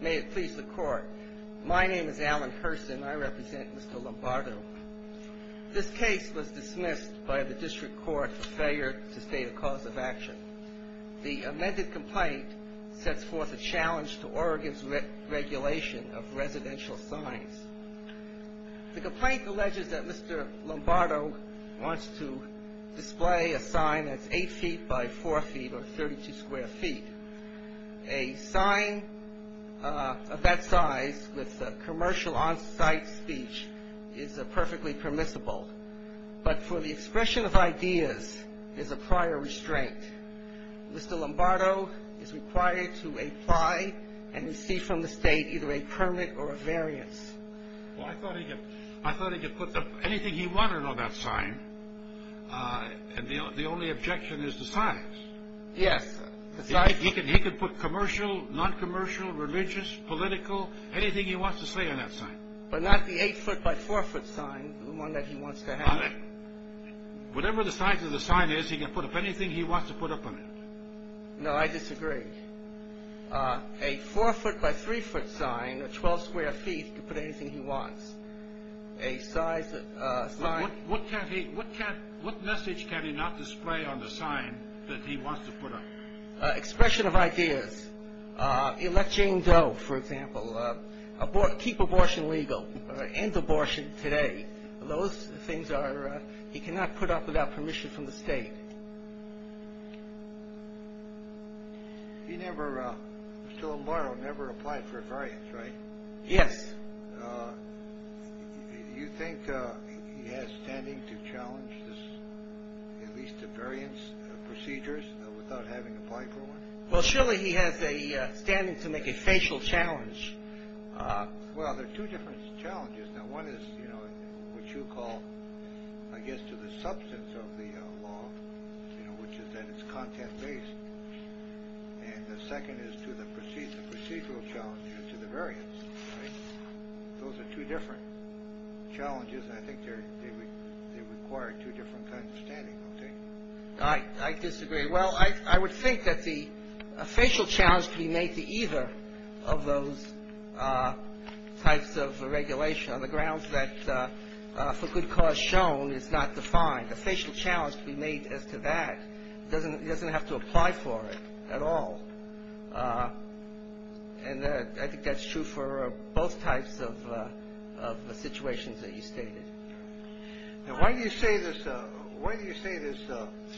May it please the Court, my name is Alan Hurston. I represent Mr. Lombardo. This case was dismissed by the district court for failure to state a cause of action. The amended complaint sets forth a challenge to Oregon's regulation of residential signs. The complaint alleges that Mr. Lombardo wants to display a sign that's 8 feet by 4 feet or 32 square feet. A sign of that size with commercial on-site speech is perfectly permissible, but for the expression of ideas, there's a prior restraint. Mr. Lombardo is required to apply and receive from the state either a permit or a variance. Well, I thought he could put anything he wanted on that sign. The only objection is the size. Yes. He could put commercial, non-commercial, religious, political, anything he wants to say on that sign. But not the 8 foot by 4 foot sign, the one that he wants to have. Whatever the size of the sign is, he can put up anything he wants to put up on it. No, I disagree. A 4 foot by 3 foot sign or 12 square feet, he can put anything he wants. What message can he not display on the sign that he wants to put up? Expression of ideas. Elect Jane Doe, for example. Keep abortion legal. End abortion today. Those things he cannot put up without permission from the state. Mr. Lombardo never applied for a variance, right? Yes. Do you think he has standing to challenge at least the variance procedures without having applied for one? Well, surely he has standing to make a facial challenge. Well, there are two different challenges. Now, one is what you call, I guess, to the substance of the law, which is that it's content-based. And the second is to the procedural challenge and to the variance, right? Those are two different challenges, and I think they require two different kinds of standing, don't they? I disagree. Well, I would think that a facial challenge could be made to either of those types of regulation on the grounds that for good cause shown is not defined. A facial challenge to be made as to that doesn't have to apply for it at all. And I think that's true for both types of situations that you stated. Now, why do you say this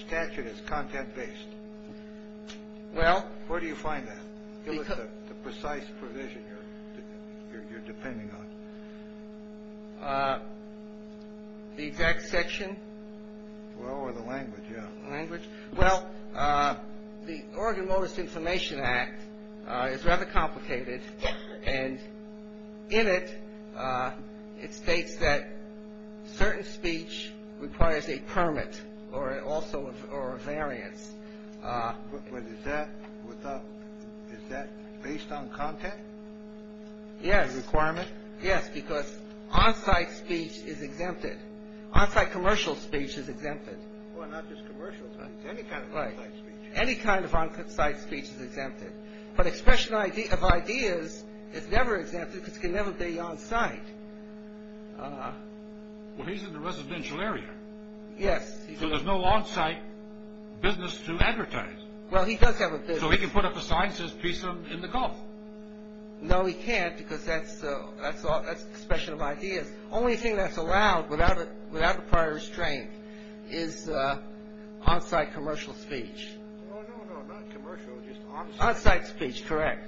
statute is content-based? Well. Where do you find that? Give us the precise provision you're depending on. The exact section? Well, or the language, yeah. Language. Well, the Oregon Modus Information Act is rather complicated, and in it, it states that certain speech requires a permit or also a variance. But is that based on content? Yes. Requirement? Yes, because on-site speech is exempted. On-site commercial speech is exempted. Well, not just commercial speech, any kind of on-site speech. Right. Any kind of on-site speech is exempted. But expression of ideas is never exempted because it can never be on-site. Well, he's in the residential area. Yes. So there's no on-site business to advertise. Well, he does have a business. So he can put up a sign that says, Peace in the Gulf. No, he can't because that's expression of ideas. The only thing that's allowed without a prior restraint is on-site commercial speech. Oh, no, no, not commercial, just on-site. On-site speech, correct.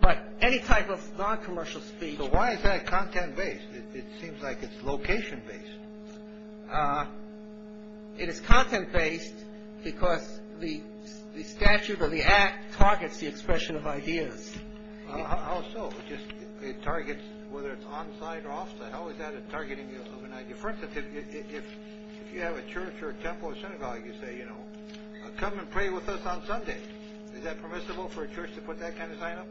But any type of non-commercial speech. But why is that content-based? It seems like it's location-based. It is content-based because the statute or the act targets the expression of ideas. How so? It targets whether it's on-site or off-site. How is that targeting of an idea? For instance, if you have a church or a temple or synagogue, you say, you know, come and pray with us on Sunday. Is that permissible for a church to put that kind of sign up?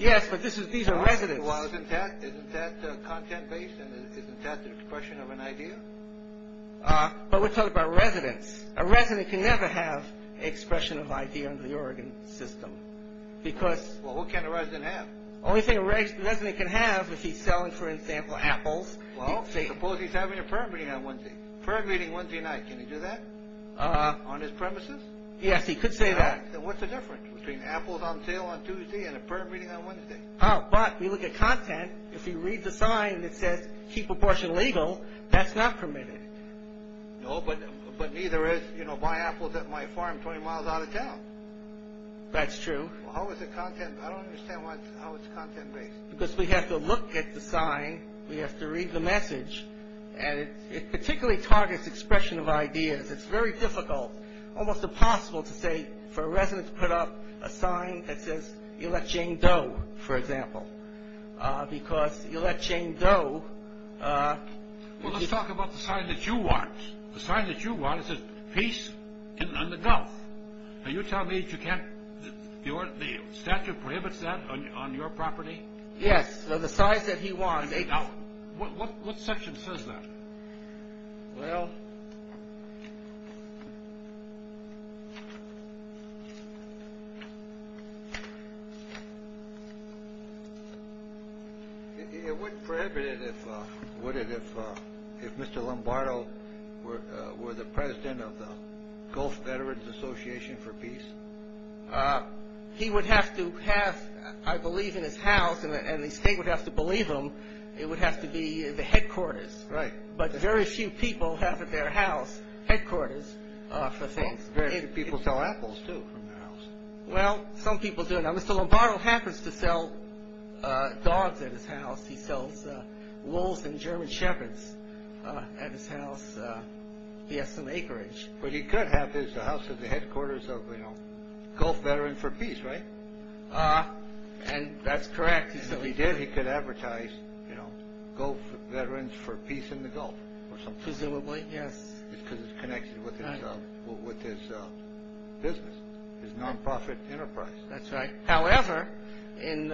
Yes, but these are residents. Well, isn't that content-based? Isn't that the expression of an idea? But we're talking about residents. A resident can never have an expression of idea under the Oregon system because... Well, what can a resident have? The only thing a resident can have if he's selling, for example, apples... Well, suppose he's having a prayer meeting on Wednesday. Prayer meeting Wednesday night, can he do that on his premises? Yes, he could say that. Then what's the difference between apples on sale on Tuesday and a prayer meeting on Wednesday? Oh, but we look at content. If he reads a sign that says, keep abortion legal, that's not permitted. No, but neither is, you know, buy apples at my farm 20 miles out of town. That's true. How is it content? I don't understand how it's content-based. Because we have to look at the sign. We have to read the message. And it particularly targets expression of ideas. It's very difficult, almost impossible, to say for a resident to put up a sign that says, elect Jane Doe, for example. Because elect Jane Doe... Well, let's talk about the sign that you want. The sign that you want says, peace in the Gulf. Now, you tell me that you can't... the statute prohibits that on your property? Yes, so the sign that he wants... Now, what section says that? Well... It wouldn't prohibit it, would it, if Mr. Lombardo were the president of the Gulf Veterans Association for Peace? He would have to have, I believe, in his house, and the state would have to believe him, it would have to be the headquarters. Right. But very few people have at their house headquarters for things. Well, very few people sell apples, too, from their house. Well, some people do. Now, Mr. Lombardo happens to sell dogs at his house. He sells wolves and German shepherds at his house. He has some acreage. But he could have his house at the headquarters of, you know, Gulf Veterans for Peace, right? And that's correct. And if he did, he could advertise, you know, Gulf Veterans for Peace in the Gulf or something. Presumably, yes. Because it's connected with his business, his non-profit enterprise. That's right. However, in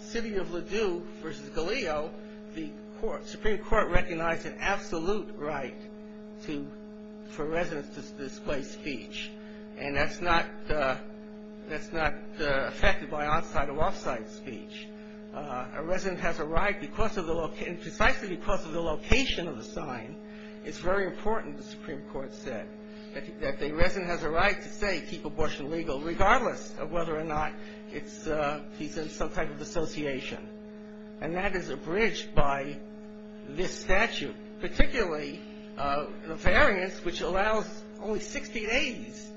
City of Ladue v. Galeo, the Supreme Court recognized an absolute right for residents to display speech. And that's not affected by on-site or off-site speech. A resident has a right, precisely because of the location of the sign, it's very important, the Supreme Court said, that a resident has a right to say, keep abortion legal, regardless of whether or not he's in some type of association. And that is abridged by this statute, particularly the variance, which allows only 60 days.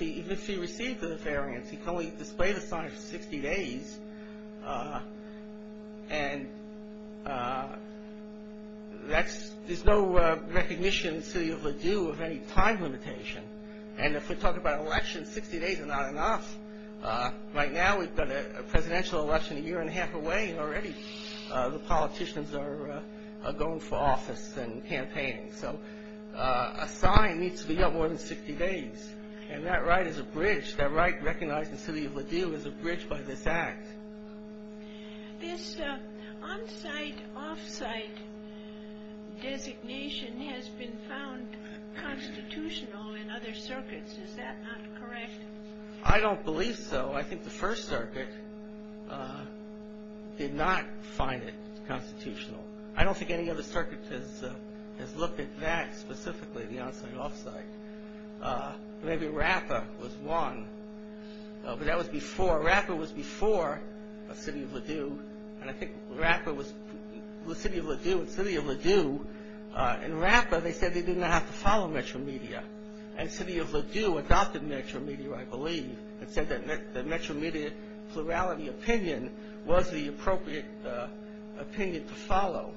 Even if he received the variance, he can only display the sign for 60 days. And there's no recognition in City of Ladue of any time limitation. And if we're talking about elections, 60 days are not enough. Right now, we've got a presidential election a year and a half away, and already the politicians are going for office and campaigning. So a sign needs to be up more than 60 days. And that right is abridged. That right recognized in City of Ladue is abridged by this act. This on-site, off-site designation has been found constitutional in other circuits. Is that not correct? I don't believe so. I think the First Circuit did not find it constitutional. I don't think any other circuit has looked at that specifically, the on-site, off-site. Maybe RAPPA was one. But that was before. RAPPA was before City of Ladue. And I think RAPPA was City of Ladue and City of Ladue. In RAPPA, they said they did not have to follow Metro Media. And City of Ladue adopted Metro Media, I believe, and said that Metro Media plurality opinion was the appropriate opinion to follow.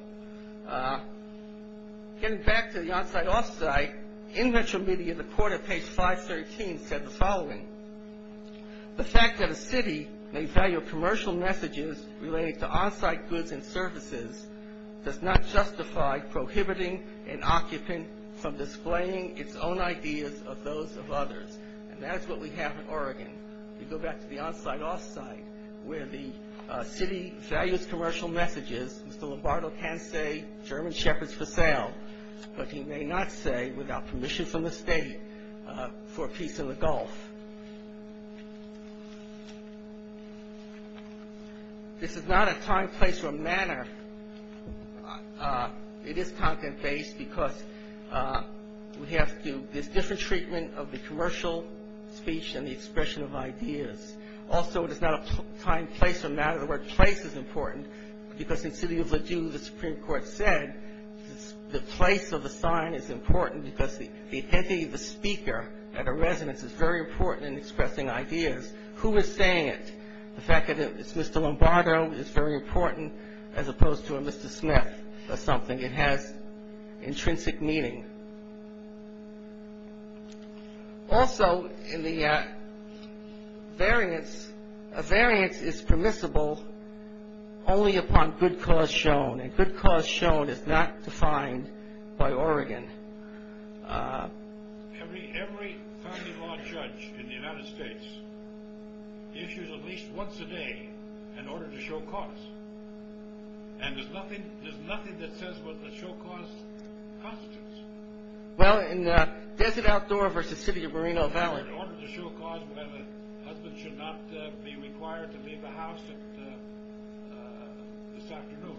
Getting back to the on-site, off-site, in Metro Media, the court at page 513 said the following. The fact that a city may value commercial messages related to on-site goods and services does not justify prohibiting an occupant from displaying its own ideas of those of others. And that is what we have in Oregon. You go back to the on-site, off-site where the city values commercial messages. Mr. Lombardo can say German Shepherds for sale, but he may not say without permission from the state for a piece in the Gulf. This is not a time, place, or manner. It is content-based because we have to do this different treatment of the commercial speech and the expression of ideas. Also, it is not a time, place, or manner. The word place is important because in City of Ladue, the Supreme Court said the place of the sign is important because the identity of the speaker at a residence is very important in expressing ideas. Who is saying it? The fact that it's Mr. Lombardo is very important as opposed to a Mr. Smith or something. It has intrinsic meaning. Also, in the variance, a variance is permissible only upon good cause shown, and good cause shown is not defined by Oregon. Every family law judge in the United States issues at least once a day an order to show cause, and there's nothing that says whether to show cause constitutes. Well, in Desert Outdoor versus City of Moreno Valley. In order to show cause, a husband should not be required to leave the house this afternoon.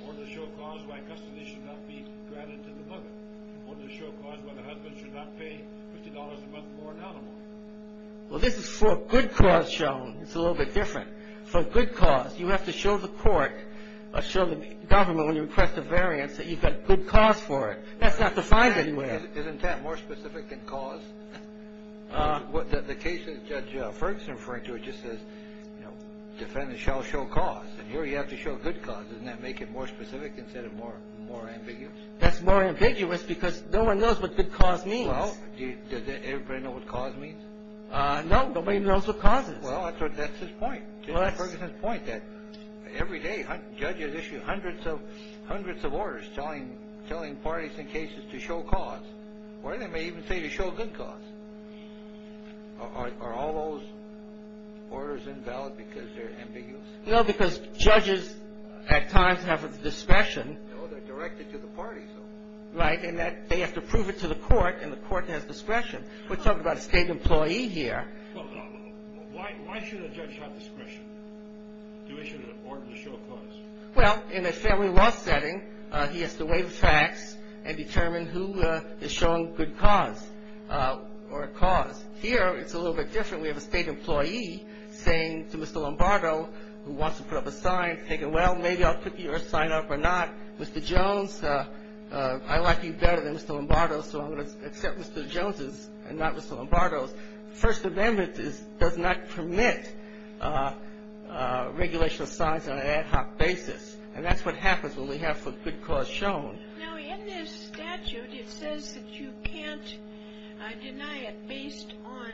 In order to show cause, custody should not be granted to the mother. In order to show cause, a husband should not pay $50 a month for an animal. Well, this is for good cause shown. It's a little bit different. For good cause, you have to show the court or show the government when you request a variance that you've got good cause for it. That's not defined anywhere. Isn't that more specific than cause? The case that Judge Ferguson referred to, it just says defendants shall show cause, and here you have to show good cause. Doesn't that make it more specific instead of more ambiguous? That's more ambiguous because no one knows what good cause means. Well, does everybody know what cause means? No, nobody knows what cause is. Well, that's his point. Every day, judges issue hundreds of orders telling parties and cases to show cause or they may even say to show good cause. Are all those orders invalid because they're ambiguous? No, because judges at times have a discretion. No, they're directed to the parties. Right, and they have to prove it to the court, and the court has discretion. We're talking about a state employee here. Why should a judge have discretion to issue an order to show cause? Well, in a family law setting, he has to weigh the facts and determine who is showing good cause or a cause. Here, it's a little bit different. We have a state employee saying to Mr. Lombardo, who wants to put up a sign, thinking, well, maybe I'll put your sign up or not. Mr. Jones, I like you better than Mr. Lombardo, so I'm going to accept Mr. Jones's and not Mr. Lombardo's. First Amendment does not permit regulation of signs on an ad hoc basis, and that's what happens when we have some good cause shown. Now, in this statute, it says that you can't deny it based on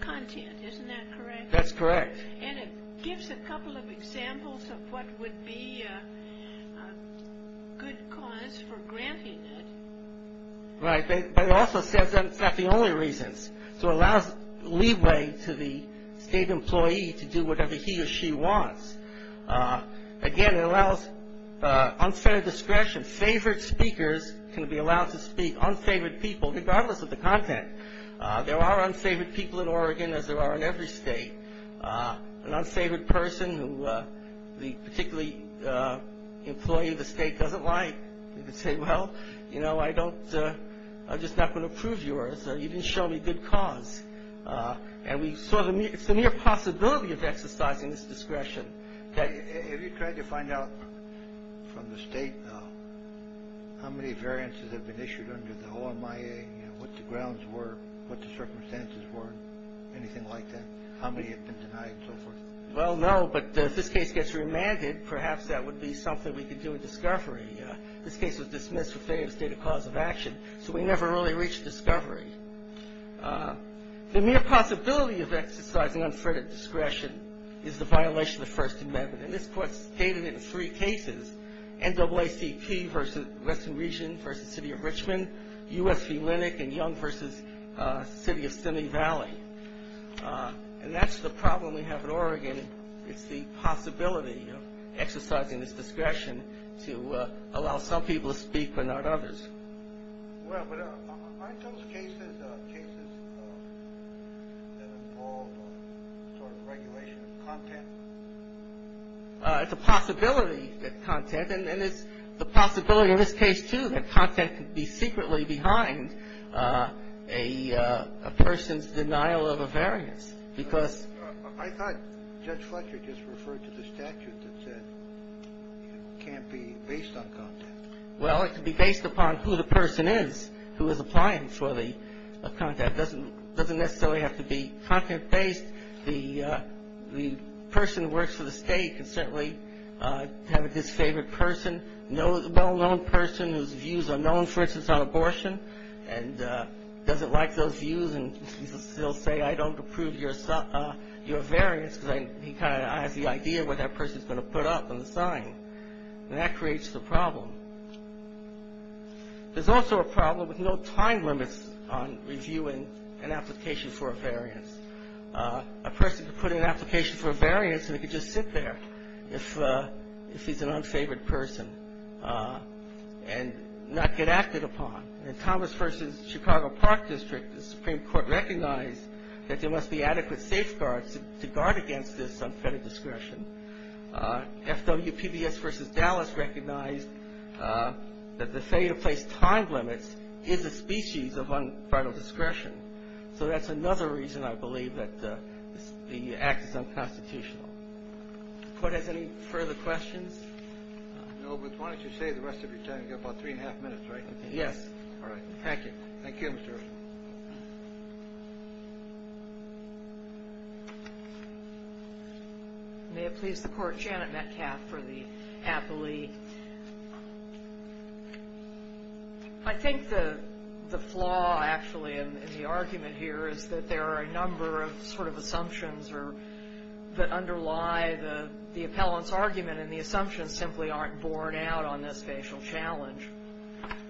content. Isn't that correct? That's correct. And it gives a couple of examples of what would be a good cause for granting it. Right, but it also says that it's not the only reasons. So it allows leeway to the state employee to do whatever he or she wants. Again, it allows unfettered discretion. Favored speakers can be allowed to speak, unfavored people, regardless of the content. There are unfavored people in Oregon, as there are in every state. An unfavored person who the particularly employee of the state doesn't like, you can say, well, you know, I don't, I'm just not going to approve yours. You didn't show me good cause. And we saw the mere possibility of exercising this discretion. Have you tried to find out from the state how many variances have been issued under the OMIA and what the grounds were, what the circumstances were, anything like that, how many have been denied and so forth? Well, no, but if this case gets remanded, perhaps that would be something we could do in discovery. This case was dismissed for failure to state a cause of action. So we never really reached discovery. The mere possibility of exercising unfettered discretion is the violation of the First Amendment. And this court stated in three cases, NAACP v. Western Region v. City of Richmond, U.S. v. Linnick and Young v. City of Simi Valley. And that's the problem we have in Oregon. It's the possibility of exercising this discretion to allow some people to speak but not others. Well, but aren't those cases, cases that involve sort of regulation of content? It's a possibility that content, and it's the possibility in this case, too, that content could be secretly behind a person's denial of a variance. I thought Judge Fletcher just referred to the statute that said it can't be based on content. Well, it can be based upon who the person is who is applying for the content. It doesn't necessarily have to be content-based. The person who works for the state can certainly have a disfavored person, a well-known person whose views are known, for instance, on abortion, and doesn't like those views, and he'll say, I don't approve your variance because he kind of has the idea of what that person is going to put up on the sign. And that creates the problem. There's also a problem with no time limits on reviewing an application for a variance. We could just sit there if he's an unfavored person and not get acted upon. In Thomas v. Chicago Park District, the Supreme Court recognized that there must be adequate safeguards to guard against this unfettered discretion. FWPBS v. Dallas recognized that the failure to place time limits is a species of unfettered discretion. So that's another reason, I believe, that the Act is unconstitutional. The Court has any further questions? No, but why don't you save the rest of your time? You've got about three and a half minutes, right? Yes. All right. Thank you. Thank you, Mr. Erickson. May it please the Court, Janet Metcalfe for the Appellee. I think the flaw, actually, in the argument here is that there are a number of sort of assumptions that underlie the appellant's argument. And the assumptions simply aren't borne out on this facial challenge.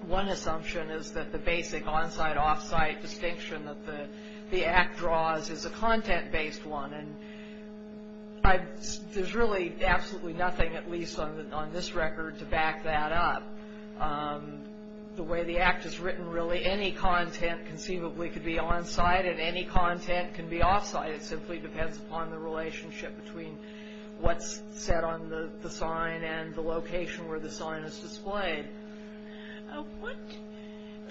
One assumption is that the basic on-site, off-site distinction that the Act draws is a content-based one. And there's really absolutely nothing, at least on this record, to back that up. The way the Act is written, really, any content conceivably could be on-site and any content can be off-site. It simply depends upon the relationship between what's set on the sign and the location where the sign is displayed. What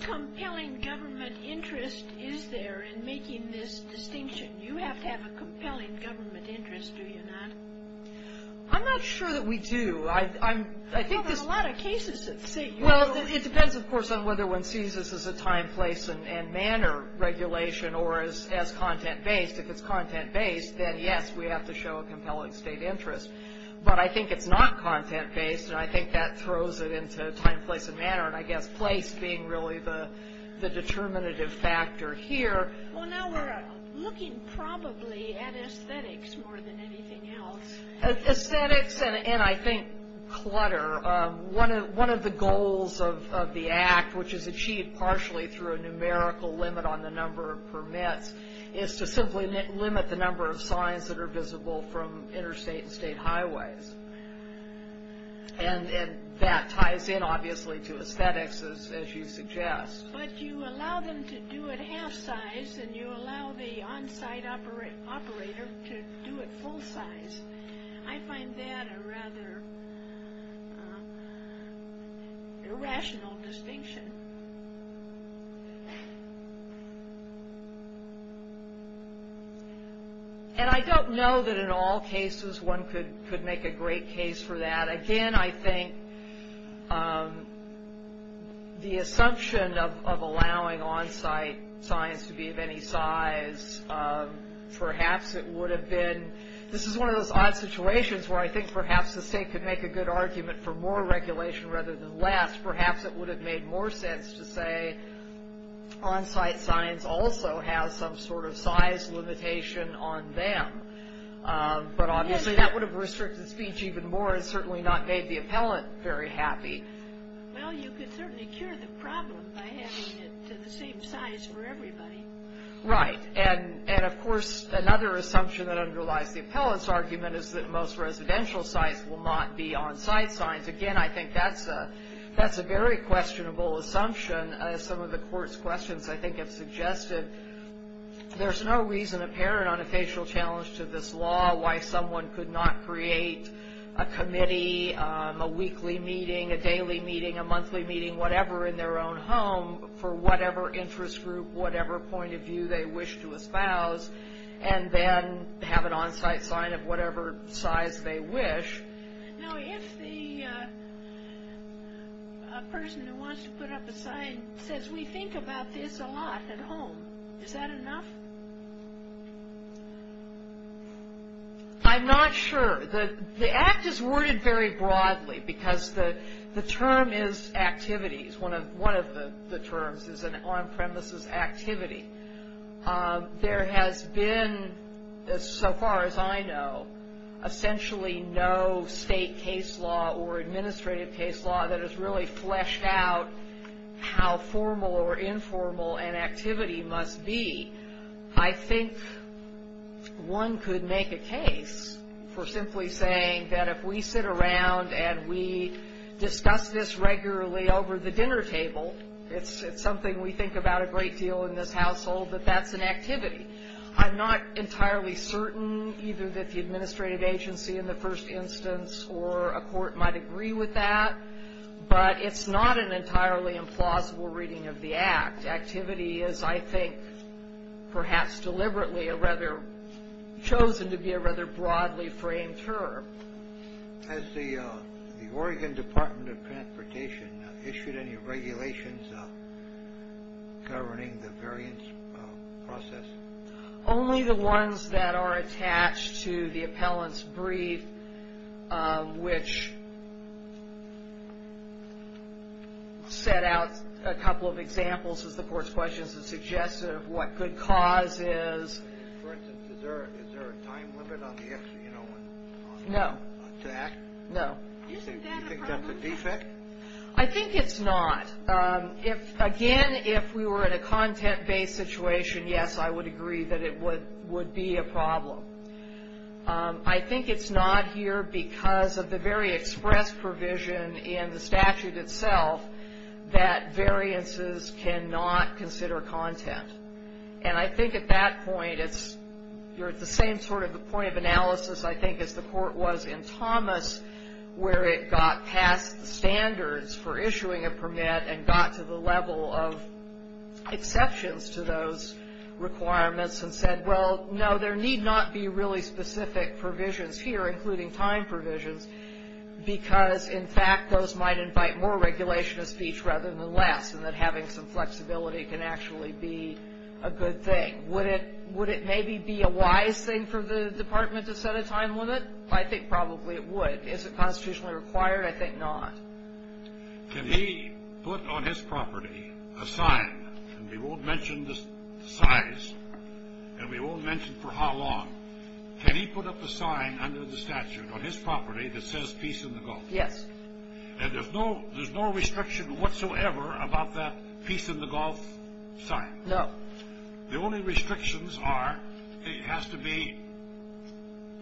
compelling government interest is there in making this distinction? You have to have a compelling government interest, do you not? I'm not sure that we do. Well, there are a lot of cases that say you don't. Well, it depends, of course, on whether one sees this as a time, place, and manner regulation or as content-based. If it's content-based, then, yes, we have to show a compelling state interest. But I think it's not content-based, and I think that throws it into time, place, and manner, and I guess place being really the determinative factor here. Well, now we're looking probably at aesthetics more than anything else. Aesthetics and, I think, clutter. One of the goals of the Act, which is achieved partially through a numerical limit on the number of permits, is to simply limit the number of signs that are visible from interstate and state highways. And that ties in, obviously, to aesthetics, as you suggest. But you allow them to do it half-size, and you allow the on-site operator to do it full-size. I find that a rather irrational distinction. And I don't know that in all cases one could make a great case for that. Again, I think the assumption of allowing on-site signs to be of any size, perhaps it would have been, this is one of those odd situations where I think perhaps the state could make a good argument for more regulation rather than less. Perhaps it would have made more sense to say on-site signs also have some sort of size limitation on them. But obviously that would have restricted speech even more and certainly not made the appellant very happy. Well, you could certainly cure the problem by having it to the same size for everybody. Right. And, of course, another assumption that underlies the appellant's argument is that most residential sites will not be on-site signs. Again, I think that's a very questionable assumption, as some of the Court's questions, I think, have suggested. There's no reason apparent on a facial challenge to this law why someone could not create a committee, a weekly meeting, a daily meeting, a monthly meeting, whatever, in their own home for whatever interest group, whatever point of view they wish to espouse, and then have an on-site sign of whatever size they wish. Now, if the person who wants to put up a sign says, we think about this a lot at home, is that enough? I'm not sure. The Act is worded very broadly because the term is activities. One of the terms is an on-premises activity. There has been, so far as I know, essentially no state case law or administrative case law that has really fleshed out how formal or informal an activity must be. I think one could make a case for simply saying that if we sit around and we discuss this regularly over the dinner table, it's something we think about a great deal in this household, that that's an activity. I'm not entirely certain either that the administrative agency in the first instance or a court might agree with that, but it's not an entirely implausible reading of the Act. Activity is, I think, perhaps deliberately chosen to be a rather broadly framed term. Has the Oregon Department of Transportation issued any regulations governing the variance process? Only the ones that are attached to the appellant's brief, which set out a couple of examples, as the court's questions have suggested, of what good cause is. For instance, is there a time limit on the actual, you know, on the Act? No. No. You think that's a defect? I think it's not. Again, if we were in a content-based situation, yes, I would agree that it would be a problem. I think it's not here because of the very express provision in the statute itself that variances cannot consider content. And I think at that point, you're at the same sort of point of analysis, I think, as the court was in Thomas, where it got past the standards for issuing a permit and got to the level of exceptions to those requirements and said, well, no, there need not be really specific provisions here, including time provisions, because, in fact, those might invite more regulation of speech rather than less, and that having some flexibility can actually be a good thing. Would it maybe be a wise thing for the department to set a time limit? I think probably it would. Is it constitutionally required? I think not. Can he put on his property a sign, and we won't mention the size, and we won't mention for how long, can he put up a sign under the statute on his property that says peace in the Gulf? Yes. And there's no restriction whatsoever about that peace in the Gulf sign? No. The only restrictions are it has to be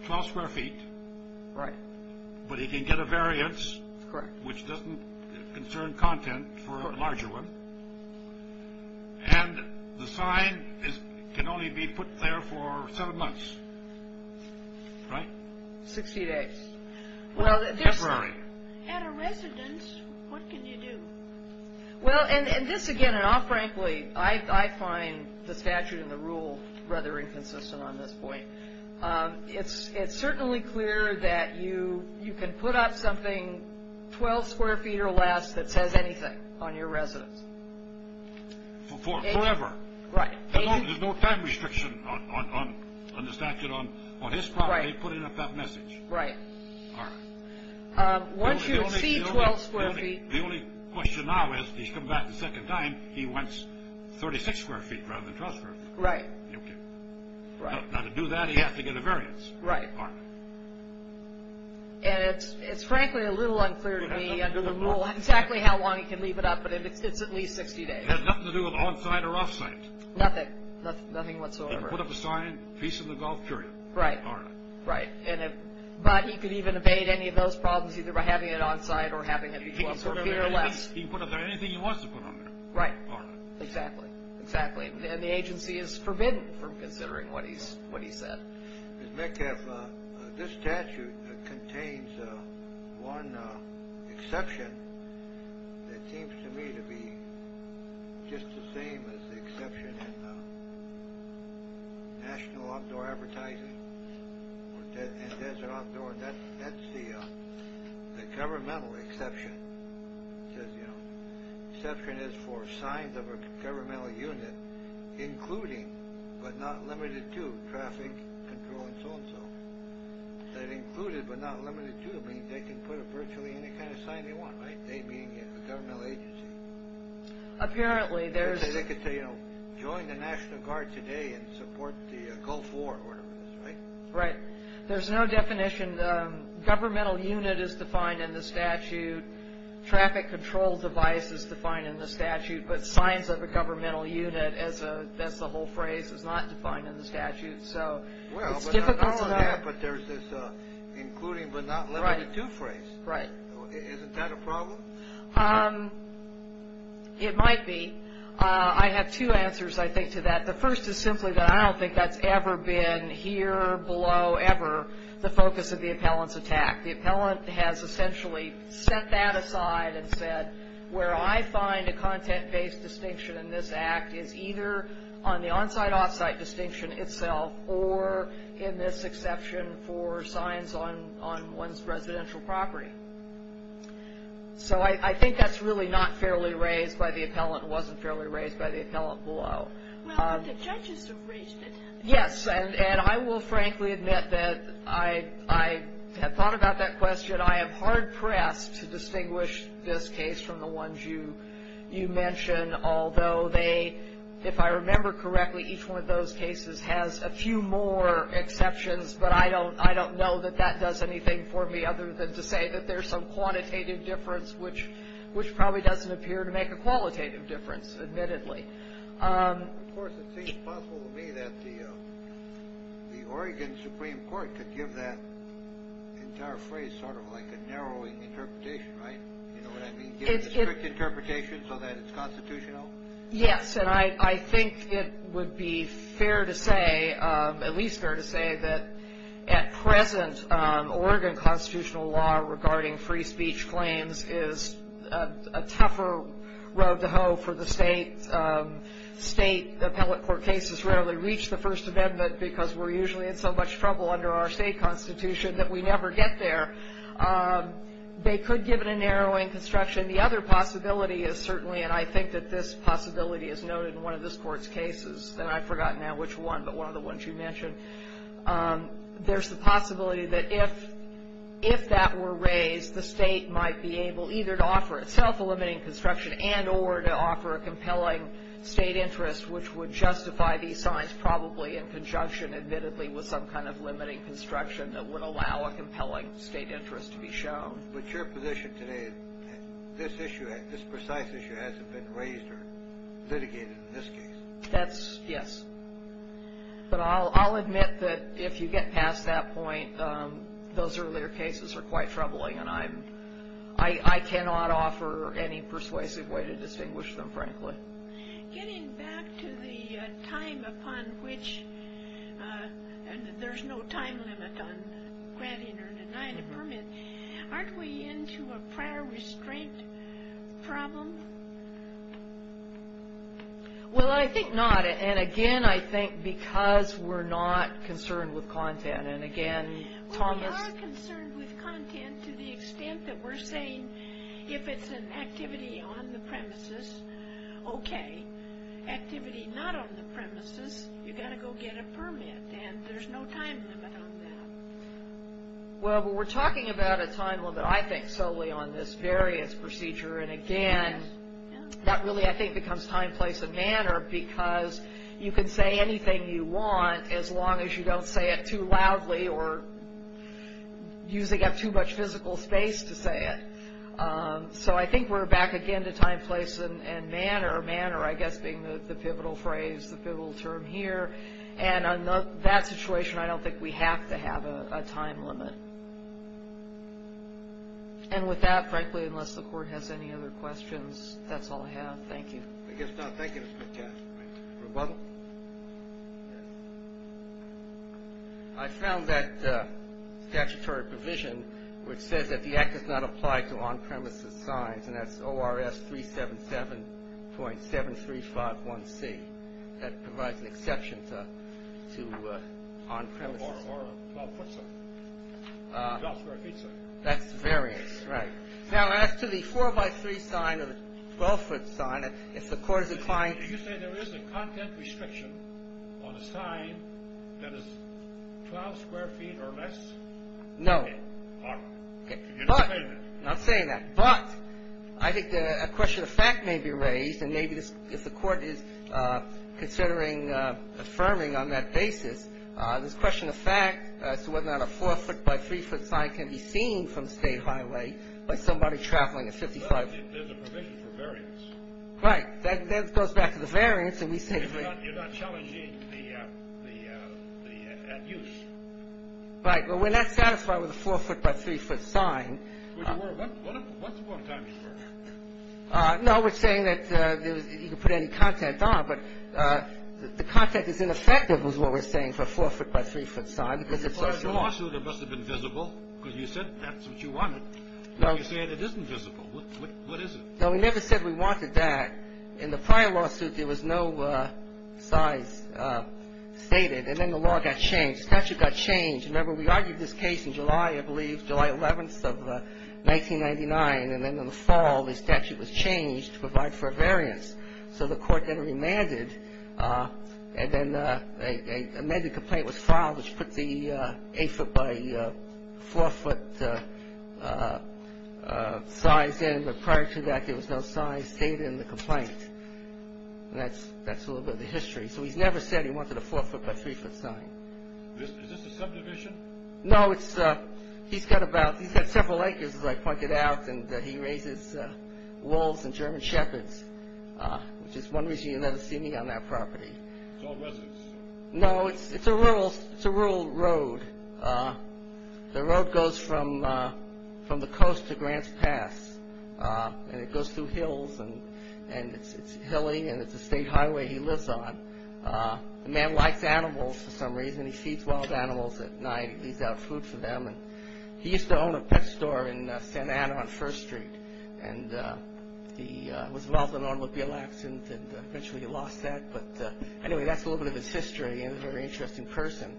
12 square feet. Right. But he can get a variance. Correct. Which doesn't concern content for a larger one. And the sign can only be put there for seven months, right? 60 days. Temporary. At a residence, what can you do? Well, and this, again, and I'll frankly, I find the statute and the rule rather inconsistent on this point. It's certainly clear that you can put up something 12 square feet or less that says anything on your residence. Forever. Right. There's no time restriction on the statute on his property putting up that message. Right. All right. Once you see 12 square feet. The only question now is he's come back a second time, he wants 36 square feet rather than 12 square feet. Right. Now, to do that, he has to get a variance. Right. All right. And it's frankly a little unclear to me under the rule exactly how long he can leave it up, but it's at least 60 days. It has nothing to do with on-site or off-site. Nothing. Nothing whatsoever. He can put up a sign, peace in the Gulf, period. Right. All right. Right. But he could even evade any of those problems either by having it on-site or having it be 12 square feet or less. He can put up there anything he wants to put on there. Right. All right. Exactly. Exactly. And the agency is forbidden from considering what he said. Ms. Metcalf, this statute contains one exception that seems to me to be just the same as the exception in National Outdoor Advertising and Desert Outdoor. That's the governmental exception. It says, you know, exception is for signs of a governmental unit including but not limited to traffic control and so on and so forth. That included but not limited to means they can put up virtually any kind of sign they want, right? They being a governmental agency. Apparently, there's – They could say, you know, join the National Guard today and support the Gulf War order, right? Right. There's no definition. Governmental unit is defined in the statute. Traffic control device is defined in the statute. But signs of a governmental unit, that's the whole phrase, is not defined in the statute. So it's difficult to know. Well, but there's this including but not limited to phrase. Right. Isn't that a problem? It might be. I have two answers, I think, to that. The first is simply that I don't think that's ever been here below ever the focus of the appellant's attack. The appellant has essentially set that aside and said, where I find a content-based distinction in this act is either on the on-site, off-site distinction itself or in this exception for signs on one's residential property. So I think that's really not fairly raised by the appellant and wasn't fairly raised by the appellant below. Well, but the judges have raised it. Yes. And I will frankly admit that I have thought about that question. I am hard-pressed to distinguish this case from the ones you mention, although they, if I remember correctly, each one of those cases has a few more exceptions, but I don't know that that does anything for me other than to say that there's some quantitative difference, which probably doesn't appear to make a qualitative difference, admittedly. Of course, it seems possible to me that the Oregon Supreme Court could give that entire phrase sort of like a narrowing interpretation, right? You know what I mean? Give it a strict interpretation so that it's constitutional? Yes, and I think it would be fair to say, at least fair to say, that at present Oregon constitutional law regarding free speech claims is a tougher road to hoe for the state. State appellate court cases rarely reach the First Amendment because we're usually in so much trouble under our state constitution that we never get there. They could give it a narrowing construction. The other possibility is certainly, and I think that this possibility is noted in one of this court's cases, and I've forgotten now which one, but one of the ones you mentioned, there's the possibility that if that were raised, the state might be able either to offer itself a limiting construction and or to offer a compelling state interest, which would justify these signs probably in conjunction, admittedly, with some kind of limiting construction that would allow a compelling state interest to be shown. But your position today, this issue, this precise issue hasn't been raised or litigated in this case. That's, yes. But I'll admit that if you get past that point, those earlier cases are quite troubling, and I cannot offer any persuasive way to distinguish them, frankly. Getting back to the time upon which, and there's no time limit on granting or denying a permit, aren't we into a prior restraint problem? Well, I think not, and again, I think because we're not concerned with content, and again, Thomas... We are concerned with content to the extent that we're saying if it's an activity on the premises, okay. Activity not on the premises, you've got to go get a permit, and there's no time limit on that. Well, but we're talking about a time limit, I think, solely on this variance procedure, and again, that really, I think, becomes time, place, and manner because you can say anything you want as long as you don't say it too loudly or using up too much physical space to say it. So I think we're back again to time, place, and manner. Manner, I guess, being the pivotal phrase, the pivotal term here, and in that situation, I don't think we have to have a time limit. And with that, frankly, unless the Court has any other questions, that's all I have. Thank you. I guess now, thank you, Mr. McCaskill. Rebuttal? I found that statutory provision which says that the act does not apply to on-premises signs, and that's ORS 377.7351C. That provides an exception to on-premises. Or a 12-foot sign. That's variance, right. Now, as to the 4-by-3 sign or the 12-foot sign, if the Court is applying to it. Did you say there is a content restriction on a sign that is 12 square feet or less? No. All right. You didn't say that. I'm not saying that. But I think a question of fact may be raised, and maybe if the Court is considering affirming on that basis this question of fact as to whether or not a 4-foot-by-3-foot sign can be seen from State Highway by somebody traveling at 55. Well, there's a provision for variance. Right. That goes back to the variance. You're not challenging the at-use. Right. Well, we're not satisfied with a 4-foot-by-3-foot sign. What's the point of timing for it? No, we're saying that you can put any content on, but the content is ineffective is what we're saying for a 4-foot-by-3-foot sign because it's so small. In the prior lawsuit, it must have been visible because you said that's what you wanted. No. You said it isn't visible. What is it? No, we never said we wanted that. In the prior lawsuit, there was no size stated, and then the law got changed. The statute got changed. Remember, we argued this case in July, I believe, July 11th of 1999, and then in the fall the statute was changed to provide for a variance. So the court then remanded, and then an amended complaint was filed, which put the 8-foot-by-4-foot size in, but prior to that there was no size stated in the complaint. And that's a little bit of the history. So he's never said he wanted a 4-foot-by-3-foot sign. Is this a subdivision? No, he's got several acres, as I pointed out, and he raises wolves and German shepherds. Which is one reason you'll never see me on that property. It's all residents. No, it's a rural road. The road goes from the coast to Grants Pass, and it goes through hills, and it's hilly, and it's a state highway he lives on. The man likes animals for some reason. He feeds wild animals at night. He leaves out food for them. He used to own a pet store in Santa Ana on First Street, and he was involved in an automobile accident, and eventually he lost that. But anyway, that's a little bit of his history, and he's a very interesting person.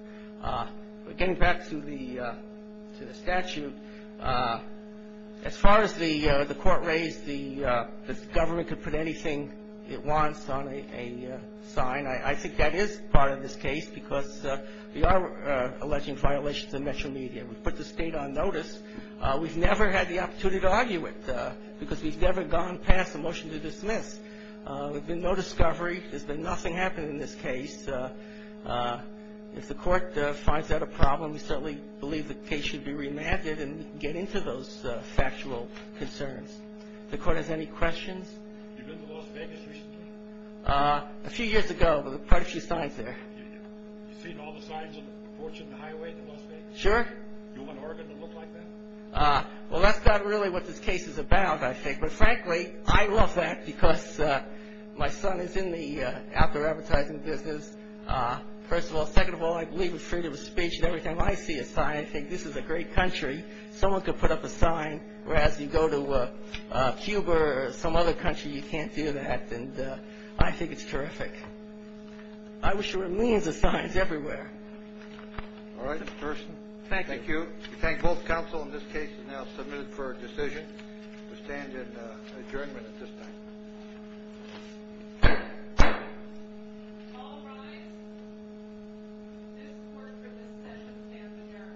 Getting back to the statute, as far as the court raised that the government could put anything it wants on a sign, I think that is part of this case because we are alleging violations of national media. We put the state on notice. We've never had the opportunity to argue it because we've never gone past a motion to dismiss. There's been no discovery. There's been nothing happening in this case. If the court finds that a problem, we certainly believe the case should be remanded and get into those factual concerns. If the court has any questions. Have you been to Las Vegas recently? A few years ago. There were quite a few signs there. You've seen all the signs on the portion of the highway to Las Vegas? Sure. Do you want Oregon to look like that? Well, that's not really what this case is about, I think. But frankly, I love that because my son is in the outdoor advertising business. First of all, second of all, I believe in freedom of speech. And every time I see a sign, I think this is a great country. Someone could put up a sign, whereas you go to Cuba or some other country, you can't do that. And I think it's terrific. I wish there were millions of signs everywhere. All right, Mr. Thurston. Thank you. We thank both counsel. And this case is now submitted for a decision. We stand in adjournment at this time. All rise. This court for this session stands adjourned. Thank you. And we will adjourn.